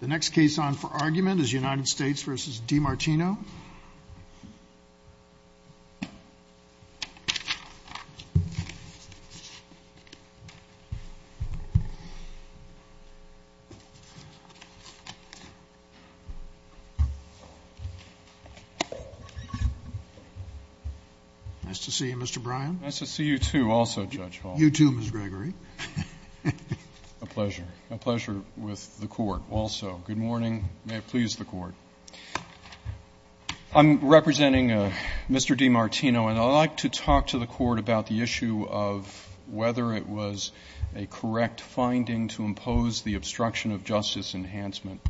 The next case on for argument is United States v. DiMartino. Nice to see you, Mr. Bryan. Nice to see you too, also, Judge Hall. You too, Ms. Gregory. A pleasure. A pleasure with the court, also. Good morning. May it please the court. I'm representing Mr. DiMartino, and I'd like to talk to the court about the issue of whether it was a correct finding to impose the obstruction of justice enhancement.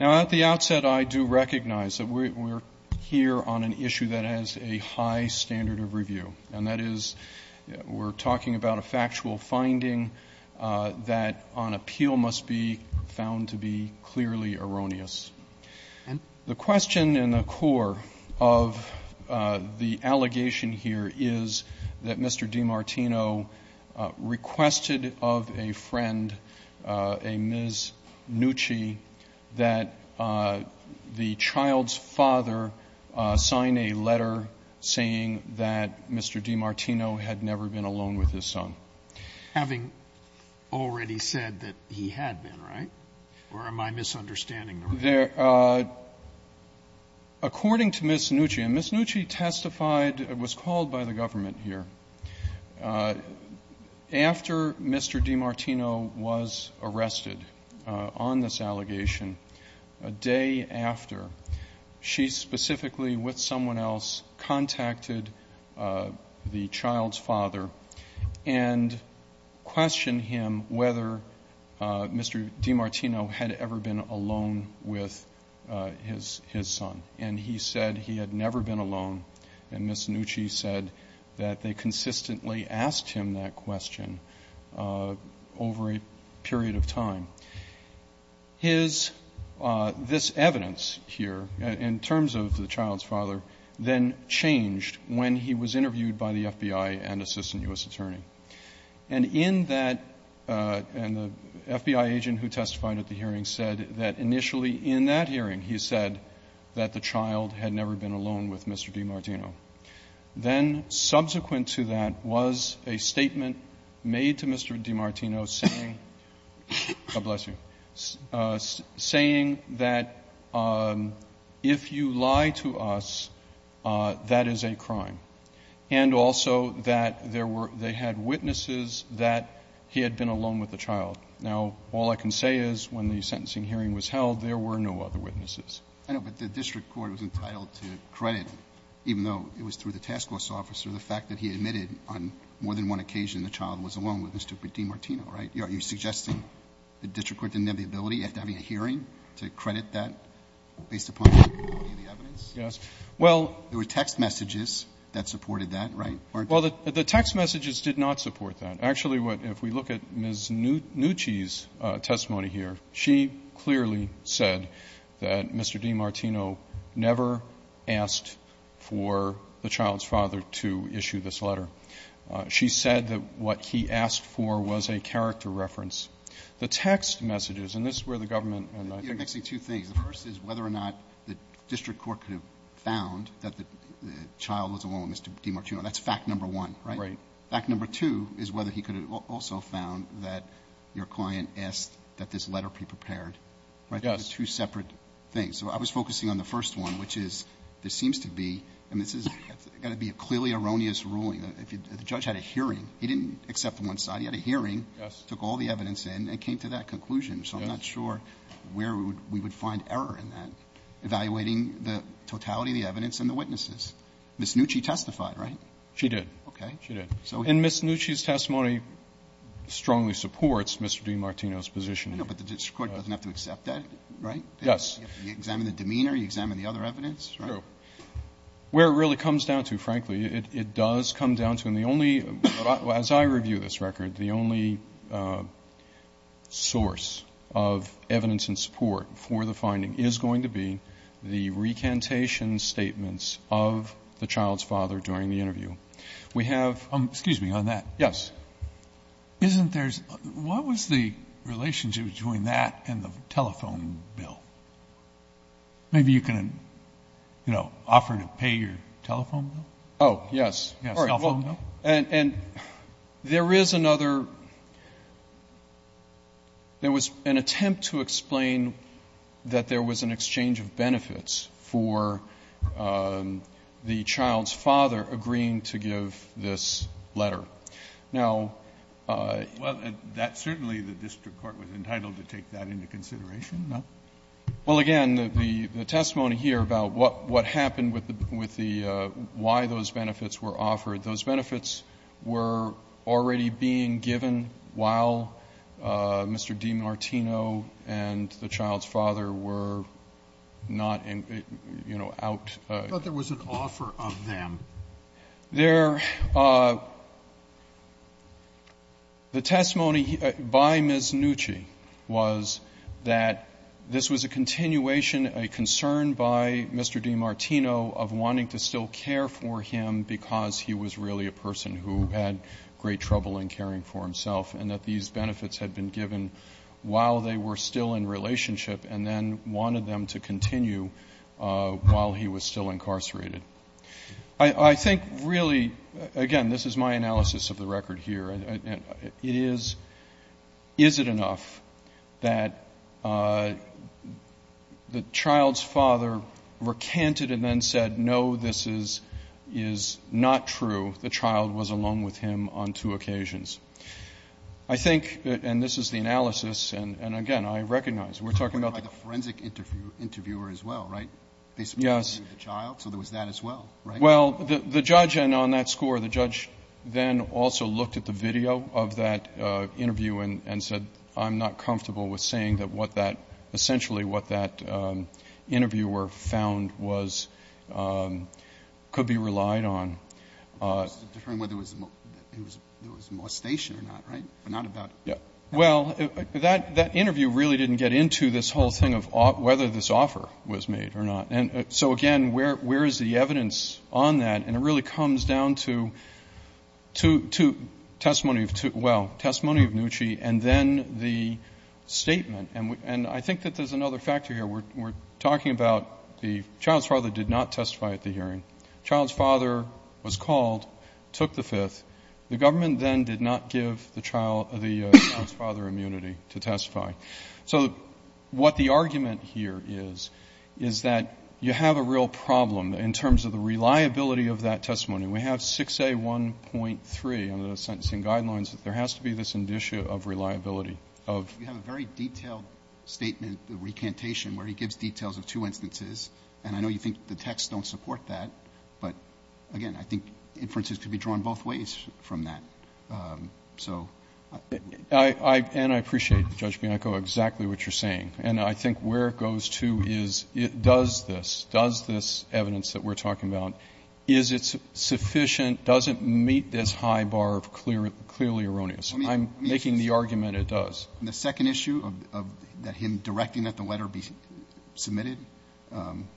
Now, at the outset, I do recognize that we're here on an issue that has a high standard of review, and that is we're talking about a factual finding that on appeal must be found to be clearly erroneous. The question in the core of the allegation here is that Mr. DiMartino requested of a friend, a Ms. Nucci, that the child's father sign a letter saying that Mr. DiMartino had never been alone with his son. Having already said that he had been, right? Or am I misunderstanding? According to Ms. Nucci, and Ms. Nucci testified, was called by the government here. After Mr. DiMartino was arrested on this allegation, a day after, she specifically, with someone else, contacted the child's father and questioned him whether Mr. DiMartino had ever been alone with his son. And he said he had never been alone. And Ms. Nucci said that they consistently asked him that question over a period of time. His, this evidence here, in terms of the child's father, then changed when he was interviewed by the FBI and assistant U.S. attorney. And in that, and the FBI agent who testified at the hearing said that initially in that hearing he said that the child had never been alone with Mr. DiMartino. Then subsequent to that was a statement made to Mr. DiMartino saying, God bless you, saying that if you lie to us, that is a crime. And also that there were, they had witnesses that he had been alone with the child. Now, all I can say is when the sentencing hearing was held, there were no other witnesses. Roberts. I know, but the district court was entitled to credit, even though it was through the task force officer, the fact that he admitted on more than one occasion the child was alone with Mr. DiMartino, right? Are you suggesting the district court didn't have the ability, after having a hearing, to credit that based upon the quality of the evidence? Yes. Well. There were text messages that supported that, right? Well, the text messages did not support that. Actually, what, if we look at Ms. Nucci's testimony here, she clearly said that Mr. DiMartino never asked for the child's father to issue this letter. She said that what he asked for was a character reference. The text messages, and this is where the government and I think. You're mixing two things. The first is whether or not the district court could have found that the child was alone with Mr. DiMartino. That's fact number one, right? Right. Fact number two is whether he could have also found that your client asked that this letter be prepared, right? Those are two separate things. So I was focusing on the first one, which is there seems to be, and this is going to be a clearly erroneous ruling. The judge had a hearing. He didn't accept one side. He had a hearing, took all the evidence in, and came to that conclusion. So I'm not sure where we would find error in that, evaluating the totality of the evidence and the witnesses. Ms. Nucci testified, right? She did. And Ms. Nucci's testimony strongly supports Mr. DiMartino's position. No, but the district court doesn't have to accept that, right? Yes. You examine the demeanor. You examine the other evidence, right? True. Where it really comes down to, frankly, it does come down to, and the only, as I review this record, the only source of evidence and support for the finding is going to be the recantation statements of the child's father during the interview. We have. Excuse me, on that. Yes. Isn't there's what was the relationship between that and the telephone bill? Maybe you can, you know, offer to pay your telephone bill? Oh, yes. And there is another. There was an attempt to explain that there was an exchange of benefits for the child's father agreeing to give this letter. Now that's certainly the district court was entitled to take that into consideration. No. Well, again, the testimony here about what happened with the why those benefits were offered, those benefits were already being given while Mr. DiMartino and the child's father were not, you know, out. I thought there was an offer of them. There. The testimony by Ms. Nucci was that this was a continuation, a concern by Mr. DiMartino of wanting to still care for him because he was really a person who had great trouble in caring for himself, and that these benefits had been given while they were still in relationship, and then wanted them to continue while he was still incarcerated. I think really, again, this is my analysis of the record here, and it is, is it enough that the child's father recanted and then said, no, this is not true? The child was alone with him on two occasions. I think, and this is the analysis, and again, I recognize, we're talking about the forensic interviewer as well, right? Yes. Based on the interview of the child, so there was that as well, right? Well, the judge, and on that score, the judge then also looked at the video of that interview and said, I'm not comfortable with saying that what that, essentially what that interviewer found was, could be relied on. Deferring whether there was molestation or not, right? But not about. Yeah. Well, that interview really didn't get into this whole thing of whether this offer was made or not. And so, again, where is the evidence on that? And it really comes down to testimony of, well, testimony of Nucci and then the statement, and I think that there's another factor here. We're talking about the child's father did not testify at the hearing. Child's father was called, took the fifth. The government then did not give the child, the child's father immunity to testify. So what the argument here is, is that you have a real problem in terms of the reliability of that testimony. We have 6A1.3 under the sentencing guidelines that there has to be this indicia of reliability of. You have a very detailed statement, the recantation, where he gives details of two But, again, I think inferences could be drawn both ways from that. So. And I appreciate, Judge Bianco, exactly what you're saying. And I think where it goes to is, does this, does this evidence that we're talking about, is it sufficient, does it meet this high bar of clearly erroneous? I'm making the argument it does. The second issue of him directing that the letter be submitted,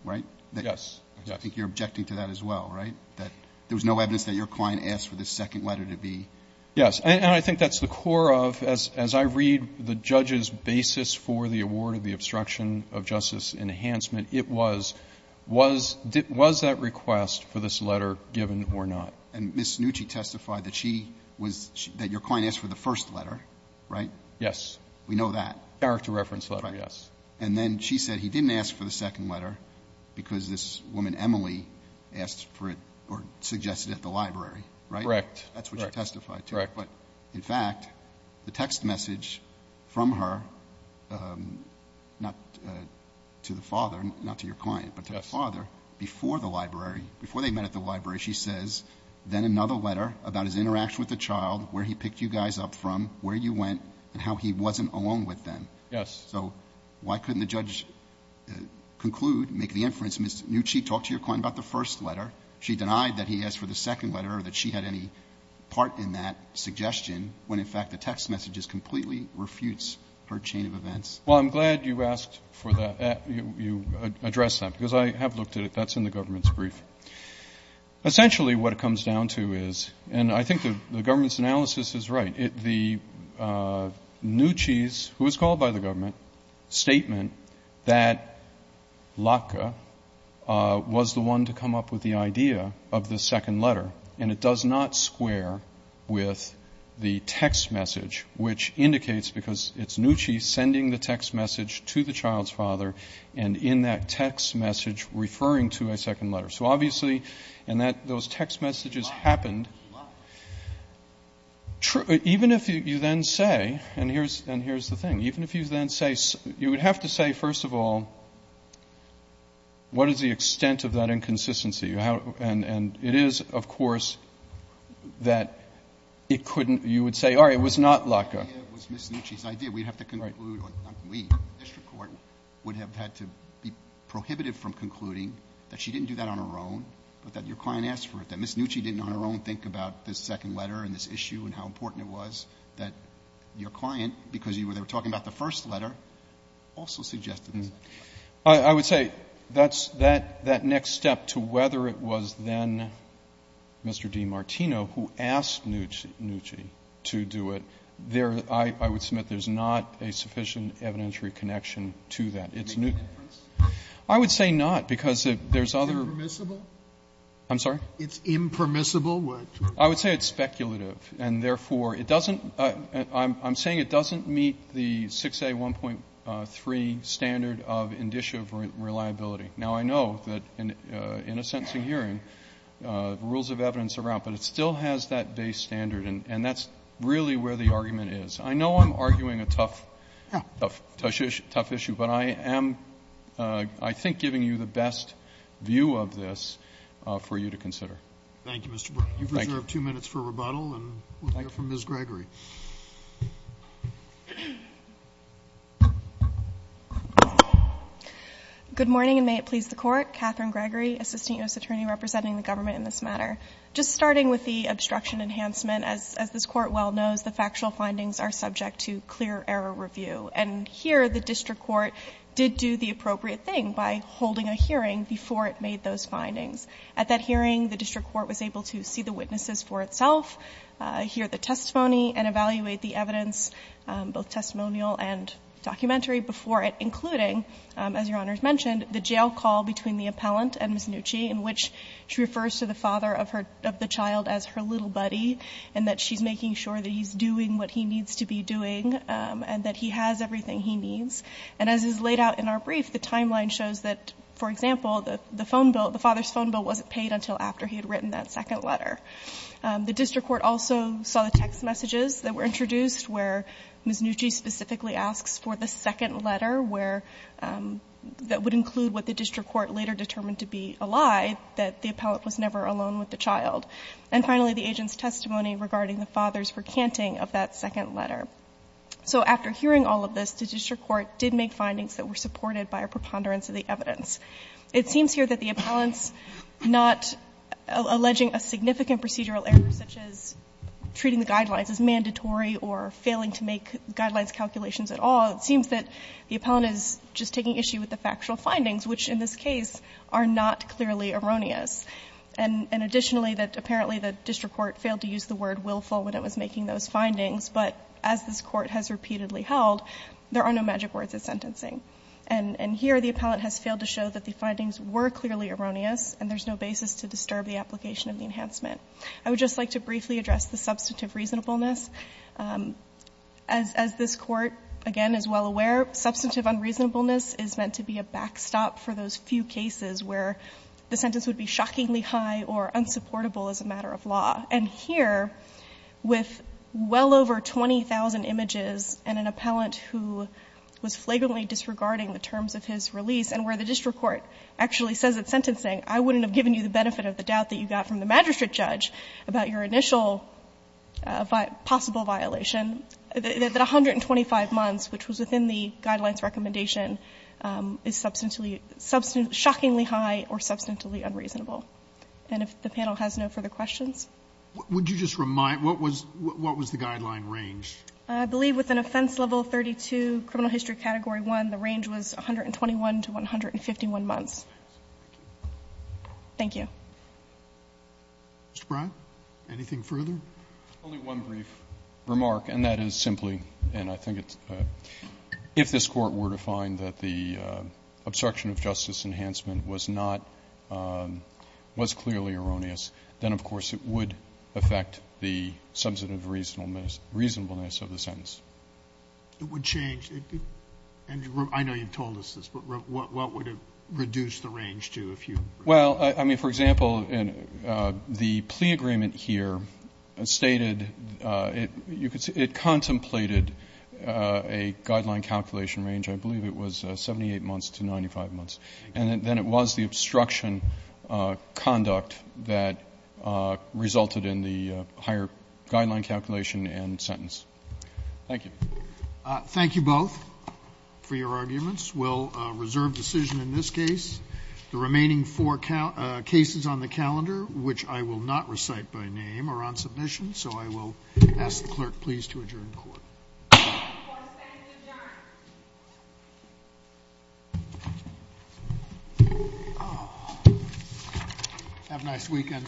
right? Yes. I think you're objecting to that as well, right? That there was no evidence that your client asked for this second letter to be. Yes. And I think that's the core of, as I read the judge's basis for the award of the obstruction of justice enhancement, it was, was that request for this letter given or not? And Ms. Nucci testified that she was, that your client asked for the first letter, Yes. We know that. Character reference letter, yes. And then she said he didn't ask for the second letter because this woman, Emily, asked for it or suggested it at the library, right? Correct. That's what she testified to. Correct. In fact, the text message from her, not to the father, not to your client, but to the father, before the library, before they met at the library, she says, then another letter about his interaction with the child, where he picked you guys up from, where you went, and how he wasn't alone with them. Yes. So why couldn't the judge conclude, make the inference, Ms. Nucci talked to your client about the first letter. She denied that he asked for the second letter or that she had any part in that suggestion, when, in fact, the text message just completely refutes her chain of events. Well, I'm glad you asked for that, you addressed that, because I have looked at it. That's in the government's brief. Essentially what it comes down to is, and I think the government's analysis is right, the Nucci's, who was called by the government, statement that Latke was the one to come up with the idea of the second letter, and it does not square with the text message, which indicates, because it's Nucci sending the text message to the child's father, and in that text message referring to a second letter. So obviously, and those text messages happened, even if you then say, and here's the thing, even if you then say, you would have to say, first of all, what is the extent of that inconsistency? And it is, of course, that it couldn't, you would say, all right, it was not Latke. It was Ms. Nucci's idea. We'd have to conclude, not we, the district court, would have had to be prohibitive from concluding that she didn't do that on her own, but that your client asked for it, that Ms. Nucci didn't on her own think about this second letter and this issue and how important it was, that your client, because you were there talking about the first letter, also suggested this. I would say that's, that next step to whether it was then Mr. DiMartino who asked Nucci to do it, there, I would submit there's not a sufficient evidentiary connection to that. It's Nucci. I would say not, because there's other. I'm sorry? It's impermissible? I would say it's speculative. And therefore, it doesn't, I'm saying it doesn't meet the 6A1.3 standard of indicia reliability. Now, I know that in a sentencing hearing, rules of evidence are out, but it still has that base standard, and that's really where the argument is. I know I'm arguing a tough, tough issue, but I am, I think, giving you the best view of this for you to consider. Thank you, Mr. Burke. Thank you. You reserve two minutes for rebuttal, and we'll hear from Ms. Gregory. Good morning, and may it please the Court. Katherine Gregory, Assistant U.S. Attorney representing the government in this matter. Just starting with the obstruction enhancement, as this Court well knows, the district court is subject to clear error review. And here, the district court did do the appropriate thing by holding a hearing before it made those findings. At that hearing, the district court was able to see the witnesses for itself, hear the testimony, and evaluate the evidence, both testimonial and documentary, before it, including, as Your Honors mentioned, the jail call between the appellant and Ms. Nucci, in which she refers to the father of her, of the child as her little buddy, and that she's making sure that he's doing what he needs to be doing, and that he has everything he needs. And as is laid out in our brief, the timeline shows that, for example, the phone bill, the father's phone bill wasn't paid until after he had written that second letter. The district court also saw the text messages that were introduced, where Ms. Nucci specifically asks for the second letter, where that would include what the district court later determined to be a lie, that the appellant was never alone with the child. And finally, the agent's testimony regarding the father's recanting of that second letter. So after hearing all of this, the district court did make findings that were supported by a preponderance of the evidence. It seems here that the appellant's not alleging a significant procedural error, such as treating the guidelines as mandatory or failing to make guidelines calculations at all. It seems that the appellant is just taking issue with the factual findings, which in this case are not clearly erroneous. And additionally, that apparently the district court failed to use the word willful when it was making those findings, but as this Court has repeatedly held, there are no magic words at sentencing. And here the appellant has failed to show that the findings were clearly erroneous and there's no basis to disturb the application of the enhancement. I would just like to briefly address the substantive reasonableness. As this Court, again, is well aware, substantive unreasonableness is meant to be a backstop for those few cases where the sentence would be shockingly high or unsupportable as a matter of law. And here, with well over 20,000 images and an appellant who was flagrantly disregarding the terms of his release and where the district court actually says at sentencing, I wouldn't have given you the benefit of the doubt that you got from the magistrate judge about your initial possible violation, that 125 months, which was within the Guideline's recommendation, is substantively, shockingly high or substantively unreasonable. And if the panel has no further questions? Roberts. Would you just remind, what was the Guideline range? I believe within offense level 32, criminal history category 1, the range was 121 to 151 months. Thank you. Mr. Bryant, anything further? Only one brief remark, and that is simply, and I think it's, if this Court were to find that the obstruction of justice enhancement was not, was clearly erroneous, then, of course, it would affect the substantive reasonableness of the sentence. It would change. And I know you've told us this, but what would it reduce the range to if you? Well, I mean, for example, the plea agreement here stated it contemplated a Guideline calculation range, I believe it was 78 months to 95 months. And then it was the obstruction conduct that resulted in the higher Guideline calculation and sentence. Thank you. Thank you both for your arguments. We'll reserve decision in this case. The remaining four cases on the calendar, which I will not recite by name, are on submission. So I will ask the Clerk please to adjourn the Court. The Court is adjourned. The Court is adjourned. Have a nice weekend, all.